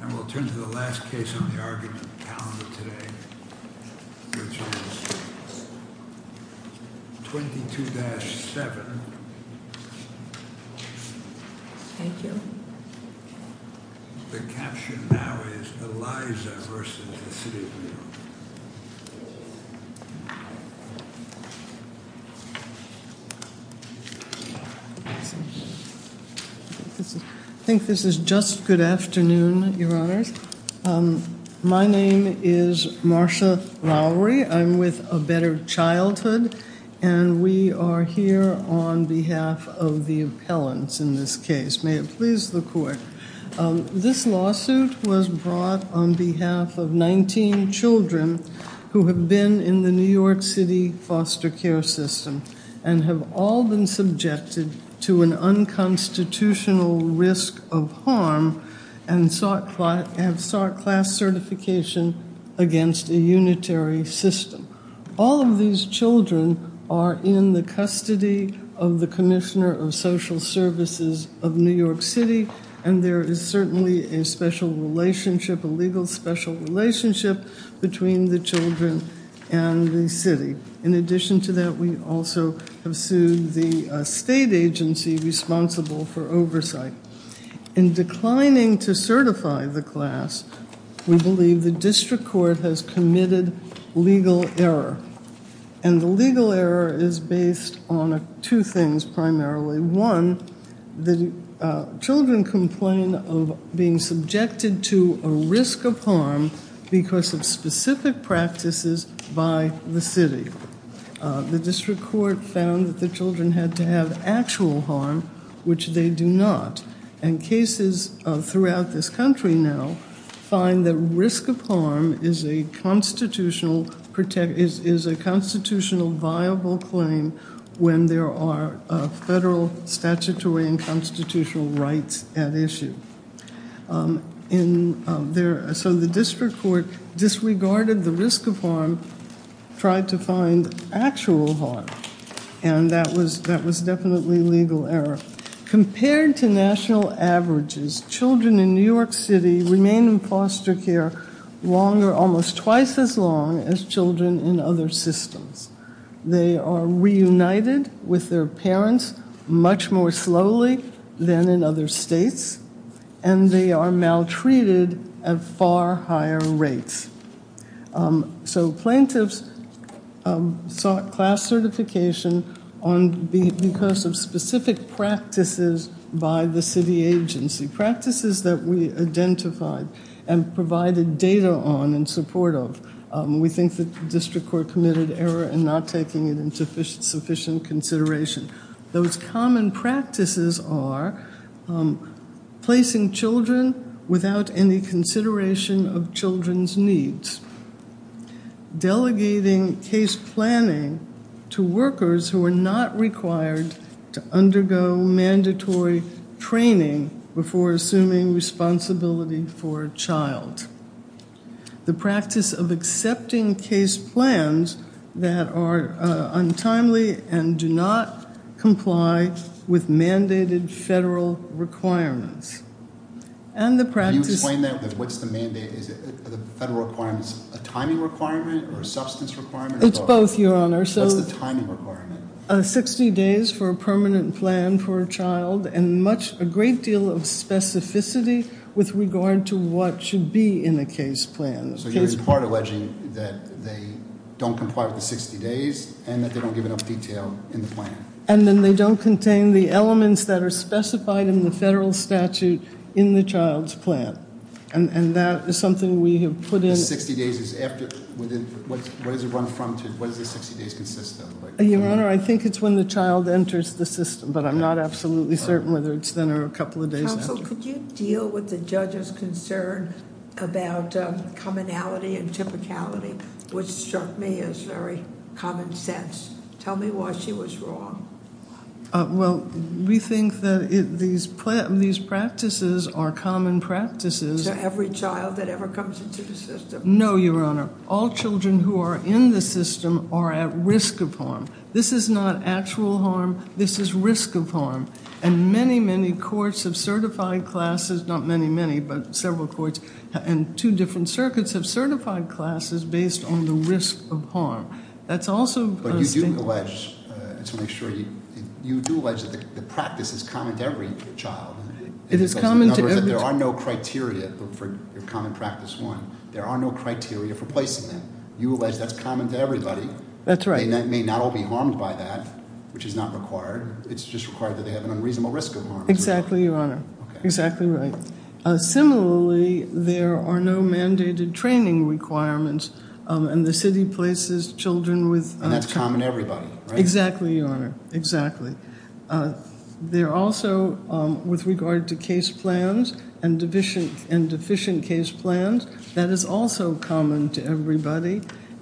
And we'll turn to the last case on the argument calendar today, which is 22-7. Thank you. The caption now is Elisa v. The City of New York. I think this is just good afternoon, Your Honors. My name is Marcia Lowry. I'm with A Better Childhood, and we are here on behalf of the appellants in this case. May it please the Court. This lawsuit was brought on behalf of 19 children who have been in the New York City foster care system and have all been subjected to an unconstitutional risk of harm and sought class certification against a unitary system. All of these children are in the custody of the Commissioner of Social Services of New York City, and there is certainly a special relationship, a legal special relationship, between the children and the city. In addition to that, we also have sued the state agency responsible for oversight. In declining to certify the class, we believe the district court has committed legal error, and the legal error is based on two things primarily. One, the children complain of being subjected to a risk of harm because of specific practices by the city. The district court found that the children had to have actual harm, which they do not, and cases throughout this country now find that risk of harm is a constitutional viable claim when there are federal statutory and constitutional rights at issue. So the district court disregarded the risk of harm, tried to find actual harm, and that was definitely legal error. Compared to national averages, children in New York City remain in foster care longer, almost twice as long, as children in other systems. They are reunited with their parents much more slowly than in other states, and they are maltreated at far higher rates. So plaintiffs sought class certification because of specific practices by the city agency, practices that we identified and provided data on and support of. We think the district court committed error in not taking it into sufficient consideration. Those common practices are placing children without any consideration of children's needs, delegating case planning to workers who are not required to undergo mandatory training before assuming responsibility for a child. The practice of accepting case plans that are untimely and do not comply with mandated federal requirements. Can you explain that? What's the mandate? Are the federal requirements a timing requirement or a substance requirement? It's both, Your Honor. What's the timing requirement? Sixty days for a permanent plan for a child and a great deal of specificity with regard to what should be in a case plan. So you're in part alleging that they don't comply with the 60 days and that they don't give enough detail in the plan. And then they don't contain the elements that are specified in the federal statute in the child's plan. And that is something we have put in. The 60 days is after, what does it run from? What does the 60 days consist of? Your Honor, I think it's when the child enters the system, but I'm not absolutely certain whether it's then or a couple of days after. Counsel, could you deal with the judge's concern about commonality and typicality, which struck me as very common sense? Tell me why she was wrong. Well, we think that these practices are common practices. To every child that ever comes into the system. No, Your Honor. All children who are in the system are at risk of harm. This is not actual harm. This is risk of harm. And many, many courts have certified classes, not many, many, but several courts, and two different circuits have certified classes based on the risk of harm. That's also a statement. But you do allege, just to make sure, you do allege that the practice is common to every child. It is common to every child. In other words, there are no criteria for common practice one. There are no criteria for placing them. You allege that's common to everybody. That's right. They may not all be harmed by that, which is not required. It's just required that they have an unreasonable risk of harm. Exactly, Your Honor. Exactly right. Similarly, there are no mandated training requirements, and the city places children with... And that's common to everybody, right? Exactly, Your Honor. Exactly. There also, with regard to case plans and deficient case plans, that is also common to everybody.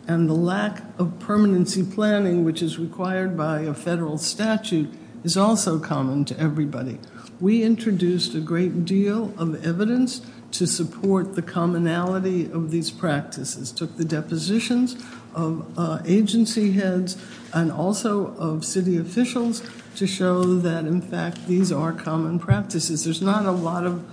And the lack of permanency planning, which is required by a federal statute, is also common to everybody. We introduced a great deal of evidence to support the commonality of these practices. Took the depositions of agency heads and also of city officials to show that, in fact, these are common practices. There's not a lot of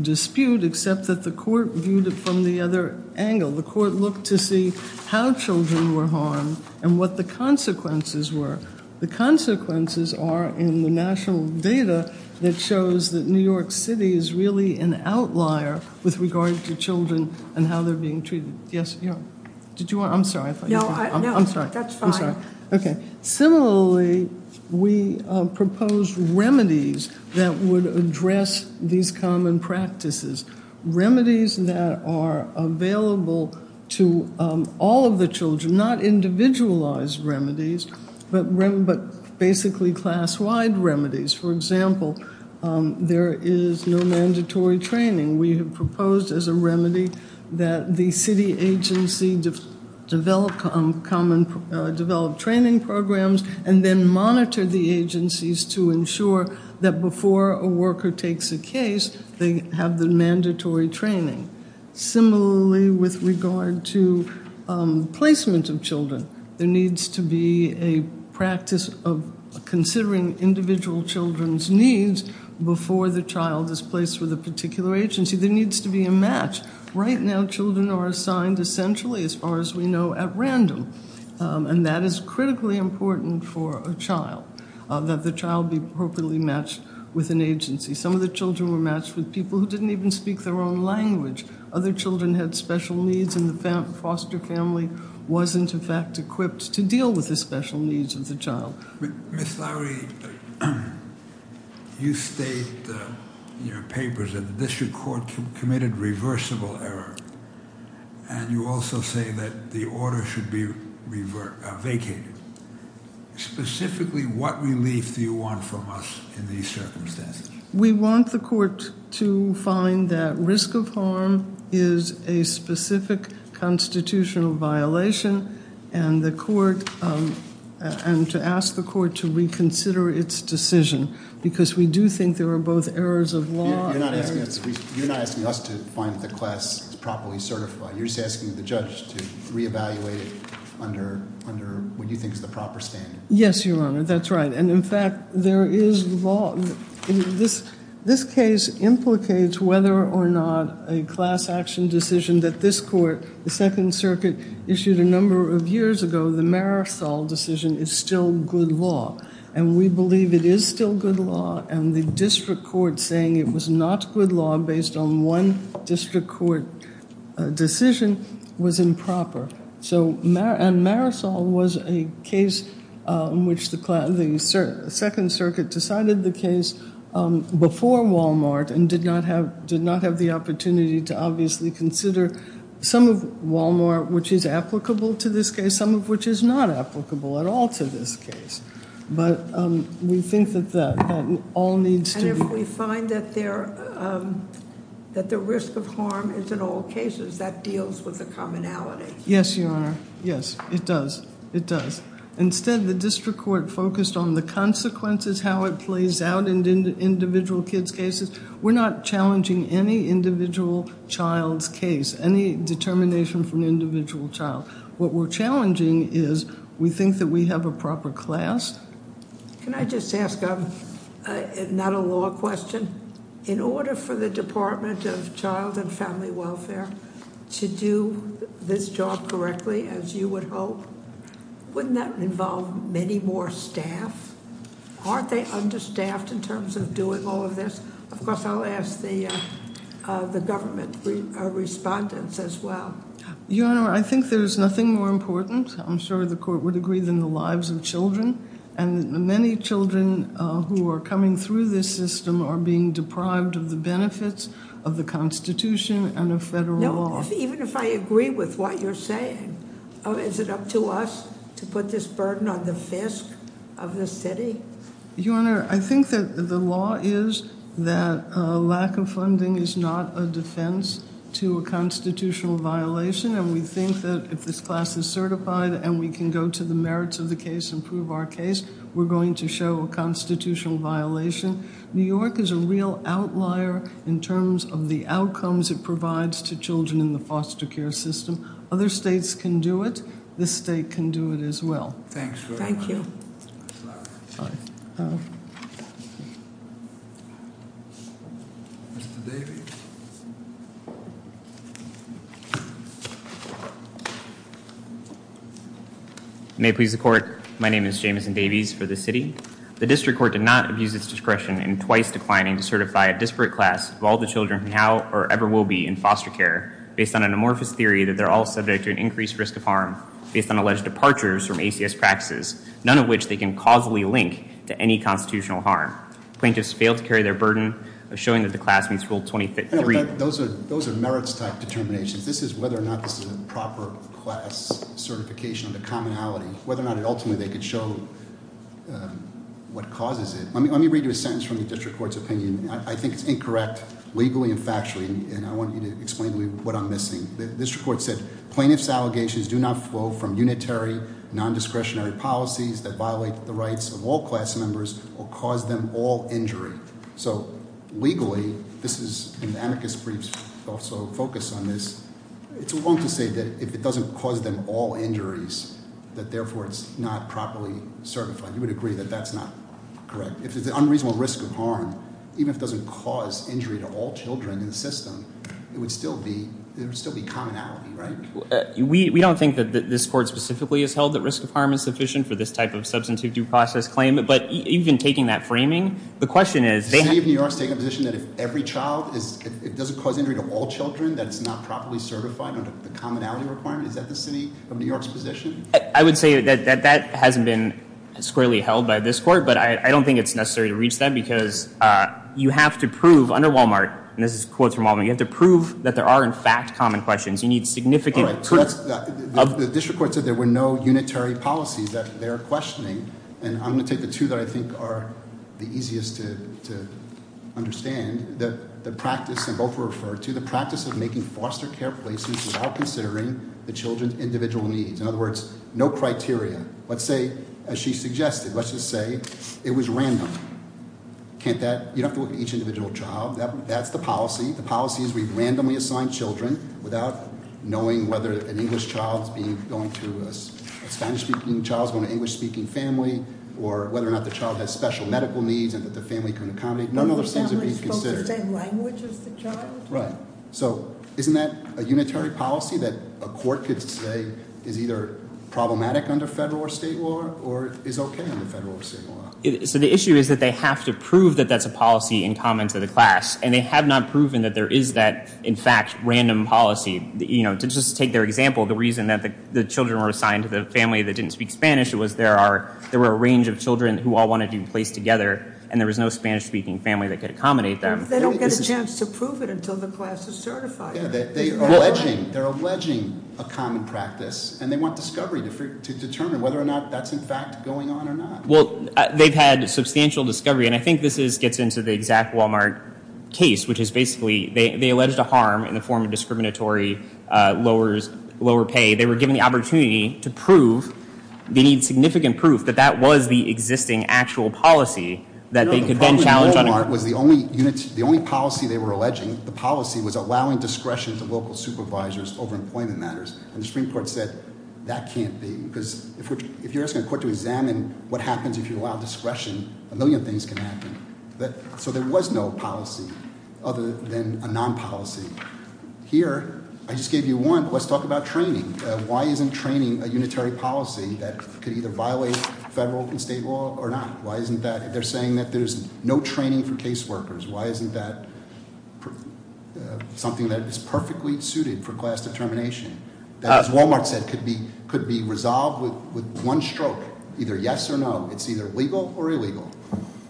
dispute except that the court viewed it from the other angle. The court looked to see how children were harmed and what the consequences were. The consequences are in the national data that shows that New York City is really an outlier with regard to children and how they're being treated. Did you want... I'm sorry. No, that's fine. Okay. Similarly, we proposed remedies that would address these common practices. Remedies that are available to all of the children, not individualized remedies, but basically class-wide remedies. For example, there is no mandatory training. We have proposed as a remedy that the city agency develop training programs and then monitor the agencies to ensure that before a worker takes a case, they have the mandatory training. Similarly, with regard to placement of children, there needs to be a practice of considering individual children's needs before the child is placed with a particular agency. There needs to be a match. Right now, children are assigned essentially, as far as we know, at random, and that is critically important for a child, that the child be appropriately matched with an agency. Some of the children were matched with people who didn't even speak their own language. Other children had special needs, and the foster family wasn't, in fact, equipped to deal with the special needs of the child. Ms. Lowry, you state in your papers that the district court committed reversible error, and you also say that the order should be vacated. Specifically, what relief do you want from us in these circumstances? We want the court to find that risk of harm is a specific constitutional violation and to ask the court to reconsider its decision because we do think there are both errors of law. You're not asking us to find that the class is properly certified. You're just asking the judge to reevaluate it under what you think is the proper standard. Yes, Your Honor, that's right. In fact, this case implicates whether or not a class action decision that this court, the Second Circuit, issued a number of years ago, the Marisol decision, is still good law, and we believe it is still good law, and the district court saying it was not good law based on one district court decision was improper. And Marisol was a case in which the Second Circuit decided the case before Wal-Mart and did not have the opportunity to obviously consider some of Wal-Mart, which is applicable to this case, some of which is not applicable at all to this case. But we think that all needs to be... And if we find that the risk of harm is in all cases, that deals with the commonality. Yes, Your Honor. Yes, it does. It does. Instead, the district court focused on the consequences, how it plays out in individual kids' cases. We're not challenging any individual child's case, any determination from an individual child. What we're challenging is we think that we have a proper class. Can I just ask not a law question? In order for the Department of Child and Family Welfare to do this job correctly, as you would hope, wouldn't that involve many more staff? Aren't they understaffed in terms of doing all of this? Of course, I'll ask the government respondents as well. Your Honor, I think there's nothing more important, I'm sure the court would agree, than the lives of children, and many children who are coming through this system are being deprived of the benefits of the Constitution and of federal law. Even if I agree with what you're saying, is it up to us to put this burden on the fist of the city? Your Honor, I think that the law is that lack of funding is not a defense to a constitutional violation, and we think that if this class is certified and we can go to the merits of the case and prove our case, we're going to show a constitutional violation. New York is a real outlier in terms of the outcomes it provides to children in the foster care system. Other states can do it. This state can do it as well. Thanks very much. Thank you. Next slide. Mr. Davies. May it please the court, my name is Jameson Davies for the city. The district court did not abuse its discretion in twice declining to certify a disparate class of all the children who now or ever will be in foster care based on an amorphous theory that they're all subject to an increased risk of harm based on alleged departures from ACS practices, none of which they can causally link to any constitutional harm. Plaintiffs failed to carry their burden of showing that the class meets rule 23. Those are merits type determinations. This is whether or not this is a proper class certification of the commonality, whether or not ultimately they could show what causes it. Let me read you a sentence from the district court's opinion. I think it's incorrect legally and factually, and I want you to explain to me what I'm missing. The district court said plaintiff's allegations do not flow from unitary, non-discretionary policies that violate the rights of all class members or cause them all injury. So legally, this is, and the amicus briefs also focus on this, it's wrong to say that if it doesn't cause them all injuries that therefore it's not properly certified. You would agree that that's not correct. If it's an unreasonable risk of harm, even if it doesn't cause injury to all children in the system, it would still be commonality, right? We don't think that this court specifically has held that risk of harm is sufficient for this type of substantive due process claim. But even taking that framing, the question is- The city of New York's taking a position that if every child, if it doesn't cause injury to all children, that it's not properly certified under the commonality requirement? Is that the city of New York's position? I would say that that hasn't been squarely held by this court, but I don't think it's necessary to reach that because you have to prove under Walmart, and this is quotes from Walmart, you have to prove that there are, in fact, common questions. You need significant- All right, so that's, the district court said there were no unitary policies that they're questioning, and I'm going to take the two that I think are the easiest to understand. The practice, and both were referred to, the practice of making foster care places without considering the children's individual needs. In other words, no criteria. Let's say, as she suggested, let's just say it was random. Can't that, you don't have to look at each individual child. That's the policy. The policy is we randomly assign children without knowing whether an English child is going to, a Spanish-speaking child is going to an English-speaking family, or whether or not the child has special medical needs and that the family can accommodate. None of those things are being considered. Are the families supposed to say the language of the child? Right. So, isn't that a unitary policy that a court could say is either problematic under federal or state law, or is okay under federal or state law? So the issue is that they have to prove that that's a policy in common to the class, and they have not proven that there is that, in fact, random policy. To just take their example, the reason that the children were assigned to the family that didn't speak Spanish was there were a range of children who all wanted to be placed together, and there was no Spanish-speaking family that could accommodate them. They don't get a chance to prove it until the class is certified. They're alleging a common practice, and they want discovery to determine whether or not that's, in fact, going on or not. Well, they've had substantial discovery, and I think this gets into the exact Wal-Mart case, which is basically they alleged a harm in the form of discriminatory lower pay. They were given the opportunity to prove, they need significant proof, that that was the existing actual policy that they could then challenge on it. No, the problem with Wal-Mart was the only policy they were alleging, the policy was allowing discretion to local supervisors over employment matters, and the Supreme Court said that can't be, because if you're asking a court to examine what happens if you allow discretion, a million things can happen. So there was no policy other than a non-policy. Here, I just gave you one. Let's talk about training. Why isn't training a unitary policy that could either violate federal and state law or not? They're saying that there's no training for case workers. Why isn't that something that is perfectly suited for class determination, that, as Wal-Mart said, could be resolved with one stroke, either yes or no? It's either legal or illegal.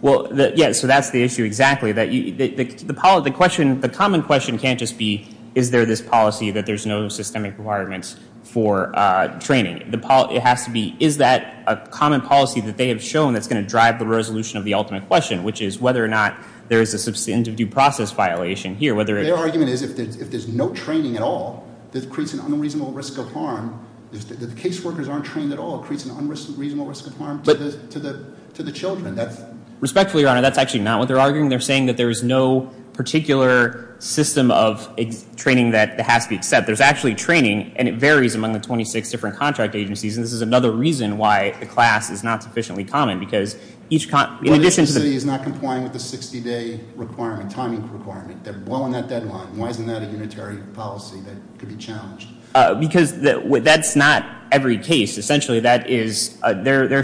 Well, yes, so that's the issue exactly. The common question can't just be is there this policy that there's no systemic requirements for training. It has to be is that a common policy that they have shown that's going to drive the resolution of the ultimate question, which is whether or not there is a substantive due process violation here. Their argument is if there's no training at all, it creates an unreasonable risk of harm. If the case workers aren't trained at all, it creates an unreasonable risk of harm to the children. Respectfully, Your Honor, that's actually not what they're arguing. They're saying that there is no particular system of training that has to be accepted. There's actually training, and it varies among the 26 different contract agencies, and this is another reason why the class is not sufficiently common, because each con- Well, the agency is not complying with the 60-day requirement, timing requirement. They're well on that deadline. Why isn't that a unitary policy that could be challenged? Because that's not every case. Essentially, they're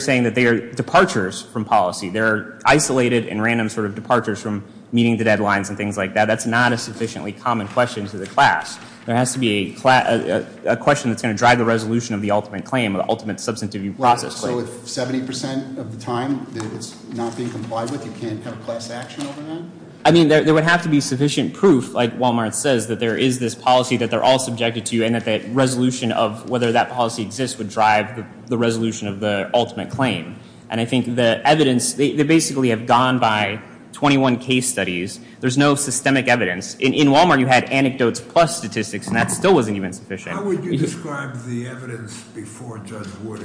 saying that they are departures from policy. They're isolated and random sort of departures from meeting the deadlines and things like that. That's not a sufficiently common question to the class. There has to be a question that's going to drive the resolution of the ultimate claim, the ultimate substantive due process claim. So if 70% of the time it's not being complied with, you can't have class action over that? I mean, there would have to be sufficient proof, like Wal-Mart says, that there is this policy that they're all subjected to and that the resolution of whether that policy exists would drive the resolution of the ultimate claim. And I think the evidence, they basically have gone by 21 case studies. There's no systemic evidence. In Wal-Mart, you had anecdotes plus statistics, and that still wasn't even sufficient. How would you describe the evidence before Judge Wood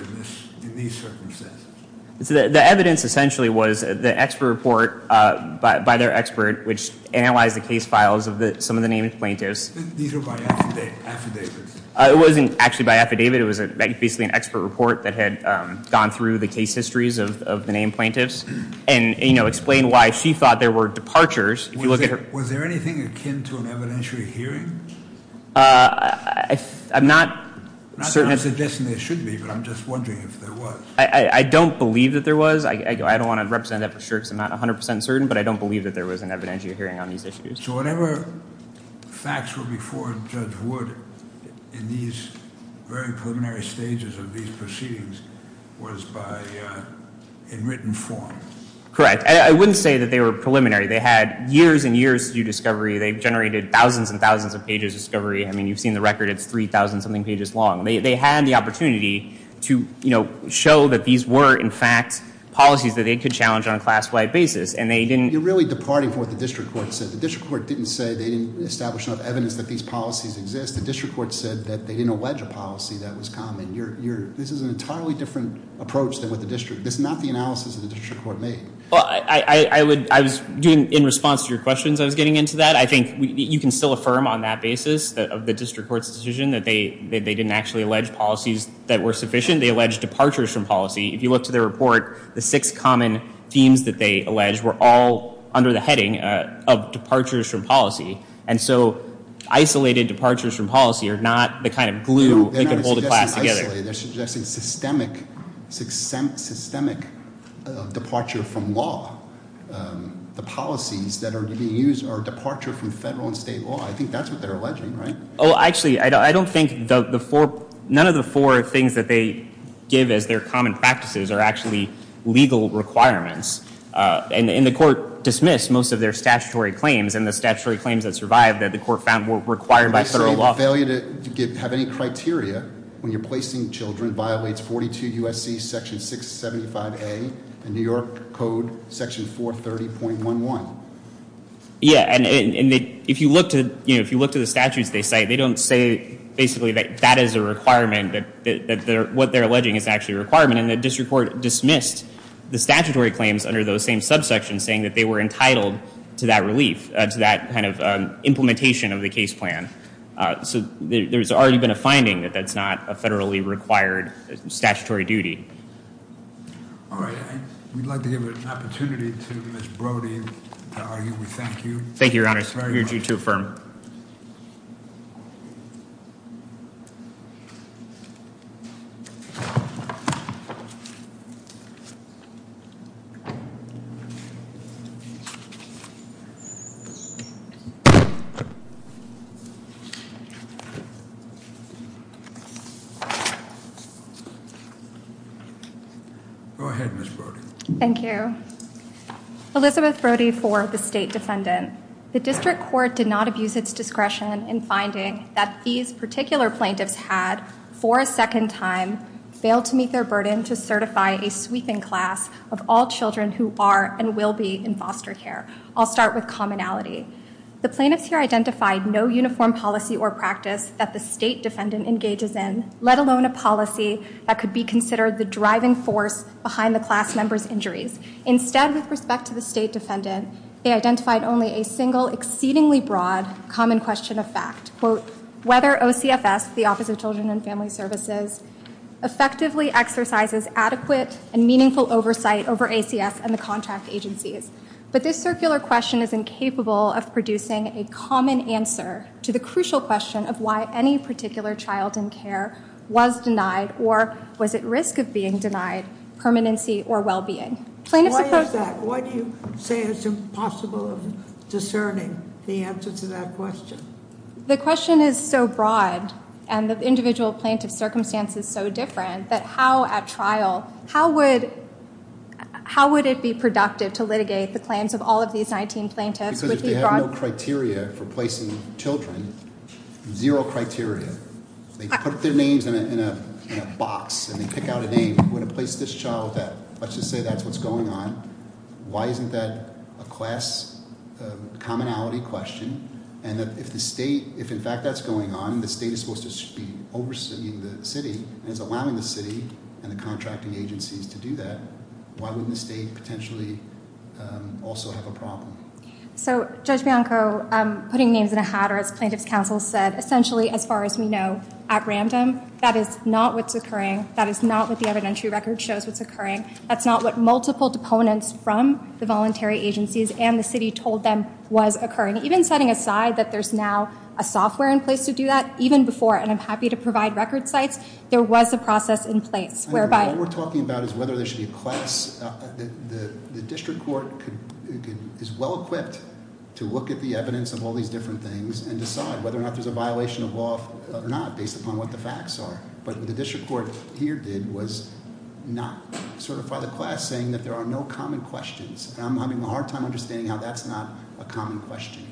in these circumstances? The evidence essentially was the expert report by their expert, which analyzed the case files of some of the named plaintiffs. These were by affidavits? It wasn't actually by affidavit. It was basically an expert report that had gone through the case histories of the named plaintiffs and explained why she thought there were departures. Was there anything akin to an evidentiary hearing? I'm not certain. I'm not suggesting there should be, but I'm just wondering if there was. I don't believe that there was. I don't want to represent that for sure because I'm not 100% certain, but I don't believe that there was an evidentiary hearing on these issues. So whatever facts were before Judge Wood in these very preliminary stages of these proceedings was in written form? Correct. I wouldn't say that they were preliminary. They had years and years to do discovery. They generated thousands and thousands of pages of discovery. I mean, you've seen the record. It's 3,000-something pages long. They had the opportunity to show that these were, in fact, policies that they could challenge on a class-wide basis. And they didn't- You're really departing from what the district court said. The district court didn't say they didn't establish enough evidence that these policies exist. The district court said that they didn't allege a policy that was common. This is an entirely different approach than what the district- This is not the analysis that the district court made. Well, I was doing- In response to your questions, I was getting into that. I think you can still affirm on that basis of the district court's decision that they didn't actually allege policies that were sufficient. They alleged departures from policy. If you look to their report, the six common themes that they alleged were all under the heading of departures from policy. And so isolated departures from policy are not the kind of glue that can hold a class together. No, they're not suggesting isolated. They're suggesting systemic departure from law. The policies that are being used are departure from federal and state law. I think that's what they're alleging, right? Actually, I don't think none of the four things that they give as their common practices are actually legal requirements. And the court dismissed most of their statutory claims. And the statutory claims that survived that the court found were required by federal law. The failure to have any criteria when you're placing children violates 42 U.S.C. Section 675A and New York Code Section 430.11. Yeah, and if you look to the statutes they cite, they don't say basically that that is a requirement, that what they're alleging is actually a requirement. And the district court dismissed the statutory claims under those same subsections saying that they were entitled to that relief, to that kind of implementation of the case plan. So there's already been a finding that that's not a federally required statutory duty. All right, we'd like to give an opportunity to Ms. Brody to argue. We thank you. Thank you, Your Honors. We urge you to affirm. Go ahead, Ms. Brody. Thank you. Elizabeth Brody for the State Defendant. The district court did not abuse its discretion in finding that these particular plaintiffs had, for a second time, failed to meet their burden to certify a sweeping class of all children who are and will be in foster care. I'll start with commonality. The plaintiffs here identified no uniform policy or practice that the State Defendant engages in, let alone a policy that could be considered the driving force behind the class member's injuries. Instead, with respect to the State Defendant, they identified only a single, exceedingly broad, common question of fact, whether OCFS, the Office of Children and Family Services, effectively exercises adequate and meaningful oversight over ACS and the contract agencies. But this circular question is incapable of producing a common answer to the crucial question of why any particular child in care was denied or was at risk of being denied permanency or well-being. Plaintiffs- Why is that? Why do you say it's impossible of discerning the answer to that question? The question is so broad, and the individual plaintiff's circumstance is so different, that how, at trial, how would it be productive to litigate the claims of all of these 19 plaintiffs? Because if they have no criteria for placing children, zero criteria, they put their names in a box and they pick out a name. We're going to place this child at, let's just say that's what's going on. Why isn't that a class commonality question? And that if the state, if in fact that's going on, the state is supposed to be overseeing the city and is allowing the city and the contracting agencies to do that, why wouldn't the state potentially also have a problem? So, Judge Bianco, putting names in a hat, or as plaintiff's counsel said, essentially, as far as we know, at random, that is not what's occurring. That is not what the evidentiary record shows what's occurring. That's not what multiple deponents from the voluntary agencies and the city told them was occurring. Even setting aside that there's now a software in place to do that, even before, and I'm happy to provide record sites, there was a process in place whereby- What we're talking about is whether there should be a class. The district court is well equipped to look at the evidence of all these different things and decide whether or not there's a violation of law or not, based upon what the facts are. But what the district court here did was not certify the class, saying that there are no common questions. I'm having a hard time understanding how that's not a common question.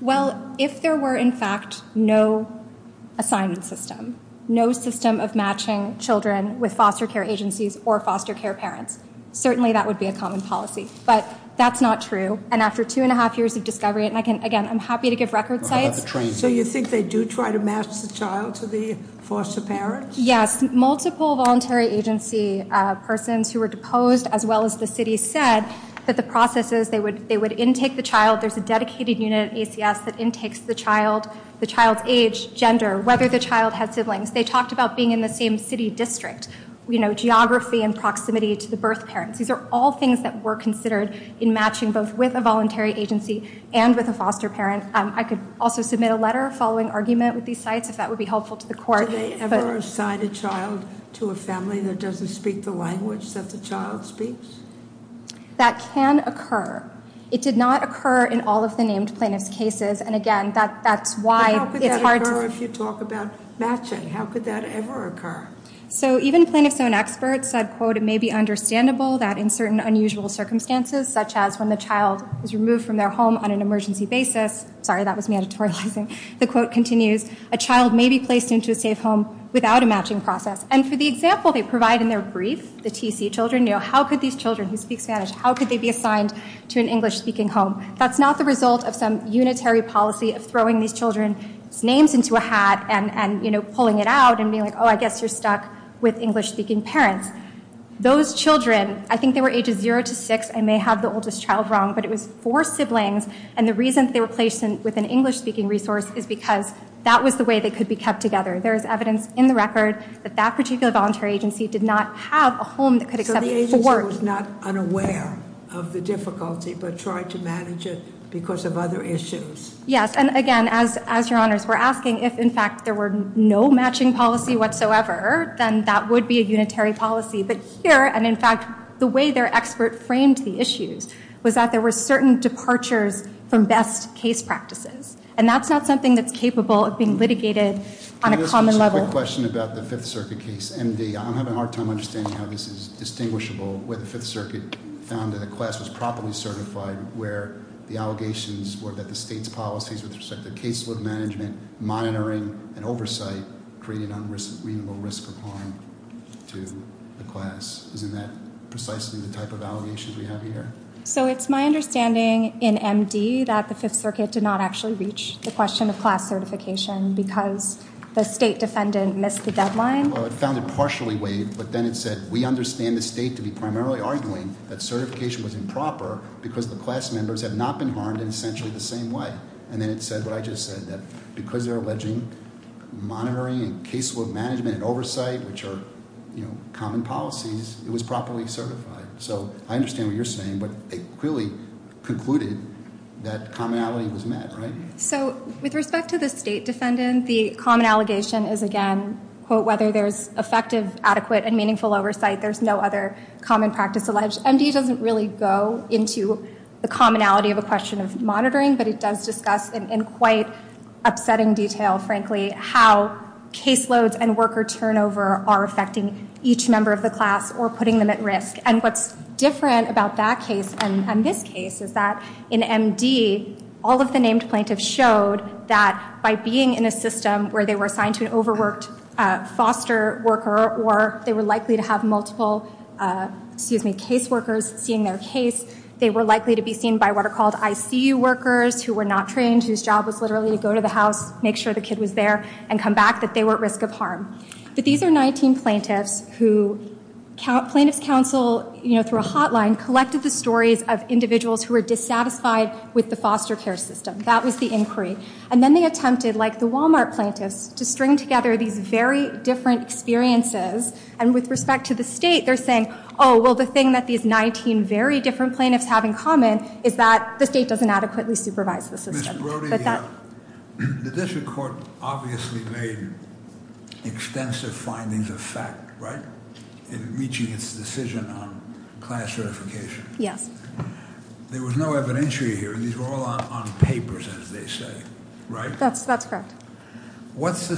Well, if there were, in fact, no assignment system, no system of matching children with foster care agencies or foster care parents, certainly that would be a common policy. But that's not true, and after two and a half years of discovery, and again, I'm happy to give record sites- So you think they do try to match the child to the foster parents? Yes. Multiple voluntary agency persons who were deposed, as well as the city, said that the process is they would intake the child. There's a dedicated unit at ACS that intakes the child, the child's age, gender, whether the child has siblings. They talked about being in the same city district, geography and proximity to the birth parents. These are all things that were considered in matching both with a voluntary agency and with a foster parent. I could also submit a letter following argument with these sites, if that would be helpful to the court. Do they ever assign a child to a family that doesn't speak the language that the child speaks? That can occur. It did not occur in all of the named plaintiff's cases, and again, that's why it's hard to- But how could that occur if you talk about matching? How could that ever occur? So even plaintiff's own experts said, quote, it may be understandable that in certain unusual circumstances, such as when the child is removed from their home on an emergency basis- sorry, that was me editorializing- the quote continues, a child may be placed into a safe home without a matching process. And for the example they provide in their brief, the TC children, how could these children who speak Spanish, how could they be assigned to an English-speaking home? That's not the result of some unitary policy of throwing these children's names into a hat and pulling it out and being like, oh, I guess you're stuck with English-speaking parents. Those children, I think they were ages zero to six. I may have the oldest child wrong, but it was four siblings. And the reason they were placed with an English-speaking resource is because that was the way they could be kept together. There is evidence in the record that that particular voluntary agency did not have a home that could accept four- So the agency was not unaware of the difficulty, but tried to manage it because of other issues. Yes, and again, as your honors were asking, if in fact there were no matching policy whatsoever, then that would be a unitary policy. But here, and in fact, the way their expert framed the issues was that there were certain departures from best case practices. And that's not something that's capable of being litigated on a common level. Can I ask a quick question about the Fifth Circuit case, MD? I'm having a hard time understanding how this is distinguishable, where the Fifth Circuit found that a class was properly certified, where the allegations were that the state's policies with respect to case load management, monitoring, and oversight created unreasonable risk of harm to the class. Isn't that precisely the type of allegations we have here? So it's my understanding in MD that the Fifth Circuit did not actually reach the question of class certification because the state defendant missed the deadline? Well, it found it partially waived, but then it said, we understand the state to be primarily arguing that certification was improper because the class members have not been harmed in essentially the same way. And then it said what I just said, that because they're alleging monitoring and case load management and oversight, which are common policies, it was properly certified. So I understand what you're saying, but it clearly concluded that commonality was met, right? So with respect to the state defendant, the common allegation is, again, whether there's effective, adequate, and meaningful oversight, there's no other common practice alleged. MD doesn't really go into the commonality of a question of monitoring, but it does discuss in quite upsetting detail, frankly, how case loads and worker turnover are affecting each member of the class or putting them at risk. And what's different about that case and this case is that in MD, all of the named plaintiffs showed that by being in a system where they were assigned to an overworked foster worker or they were likely to have multiple case workers seeing their case, they were likely to be seen by what are called ICU workers who were not trained, whose job was literally to go to the house, make sure the kid was there, and come back, that they were at risk of harm. But these are 19 plaintiffs who plaintiff's counsel, through a hotline, collected the stories of individuals who were dissatisfied with the foster care system. That was the inquiry. And then they attempted, like the Walmart plaintiffs, to string together these very different experiences. And with respect to the state, they're saying, well, the thing that these 19 very different plaintiffs have in common is that the state doesn't adequately supervise the system. But that- The district court obviously made extensive findings of fact, right? In reaching its decision on class certification. Yes. There was no evidentiary here. These were all on papers, as they say, right? That's correct. What is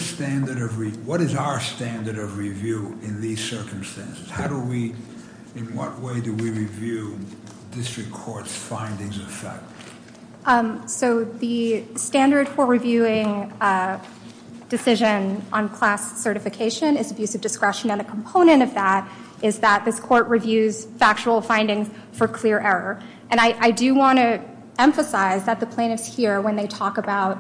our standard of review in these circumstances? How do we, in what way do we review district court's findings of fact? So the standard for reviewing decision on class certification is abuse of discretion. And a component of that is that this court reviews factual findings for clear error. And I do want to emphasize that the plaintiffs here, when they talk about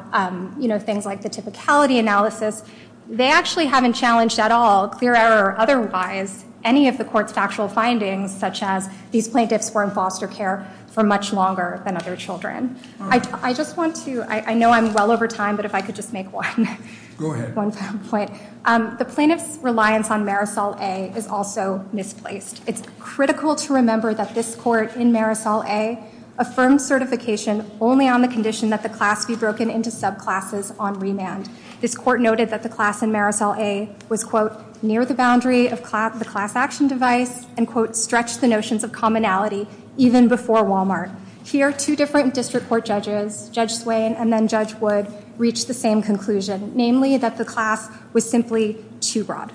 things like the typicality analysis, they actually haven't challenged at all, clear error or otherwise, any of the court's factual findings, such as these plaintiffs were in foster care for much longer than other children. I just want to- I know I'm well over time, but if I could just make one- Go ahead. One point. The plaintiff's reliance on Marisol A. is also misplaced. It's critical to remember that this court in Marisol A. affirmed certification only on the condition that the class be broken into subclasses on remand. This court noted that the class in Marisol A. was, quote, near the boundary of the class action device and, quote, stretched the notions of commonality even before Walmart. Here, two different district court judges, Judge Swain and then Judge Wood, reached the same conclusion, namely that the class was simply too broad.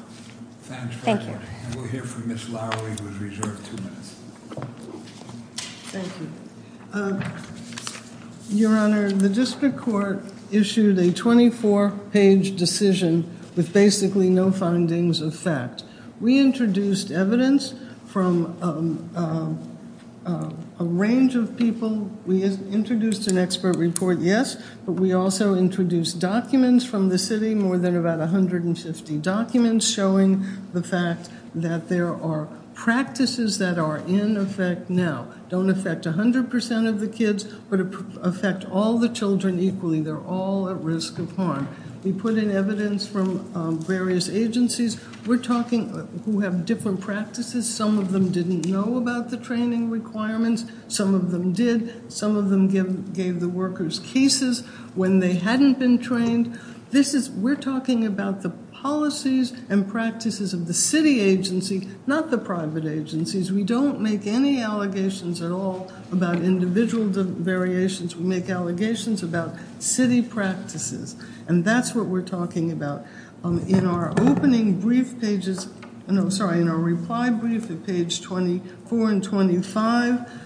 Thank you. We'll hear from Ms. Lowery, who is reserved two minutes. Thank you. Your Honor, the district court issued a 24-page decision with basically no findings of fact. We introduced evidence from a range of people. We introduced an expert report, yes, but we also introduced documents from the city, more than about 150 documents showing the fact that there are practices that are in effect now. Don't affect 100% of the kids, but affect all the children equally. They're all at risk of harm. We put in evidence from various agencies. We're talking who have different practices. Some of them didn't know about the training requirements. Some of them did. Some of them gave the workers cases when they hadn't been trained. We're talking about the policies and practices of the city agency, not the private agencies. We don't make any allegations at all about individual variations. We make allegations about city practices, and that's what we're talking about. In our reply brief at page 24 and 25,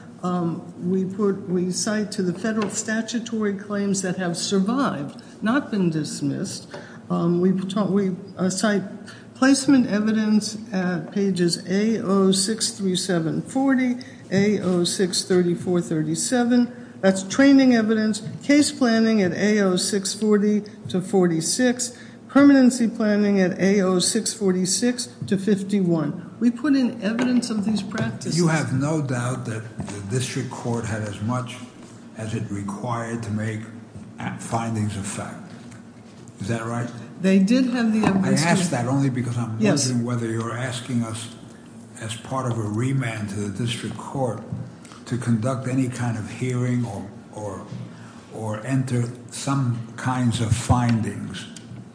we cite to the federal statutory claims that have survived, not been dismissed. We cite placement evidence at pages A06-3740, A06-3437. That's training evidence. Case planning at A06-40 to 46. Permanency planning at A06-46 to 51. We put in evidence of these practices. You have no doubt that the district court had as much as it required to make findings of fact. Is that right? They did have the evidence. I ask that only because I'm wondering whether you're asking us, as part of a remand to the district court, to conduct any kind of hearing or enter some kinds of findings.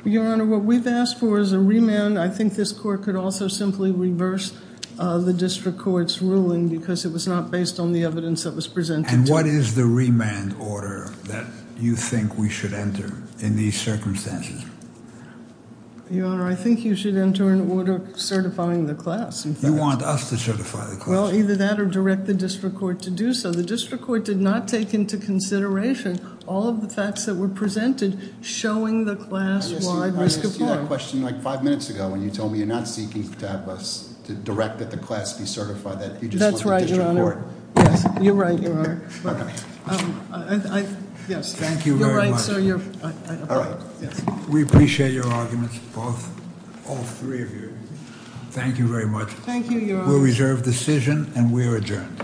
Your Honor, what we've asked for is a remand. I think this court could also simply reverse the district court's ruling because it was not based on the evidence that was presented. And what is the remand order that you think we should enter in these circumstances? Your Honor, I think you should enter an order certifying the class. You want us to certify the class. Well, either that or direct the district court to do so. The district court did not take into consideration all of the facts that were presented showing the class-wide risk of harm. I asked you that question like five minutes ago when you told me you're not seeking to have us direct that the class be certified. That's right, Your Honor. You just want the district court. Yes, you're right, Your Honor. Yes, thank you very much. You're right, sir. We appreciate your arguments, all three of you. Thank you very much. Thank you, Your Honor. We'll reserve decision and we are adjourned. Court is adjourned.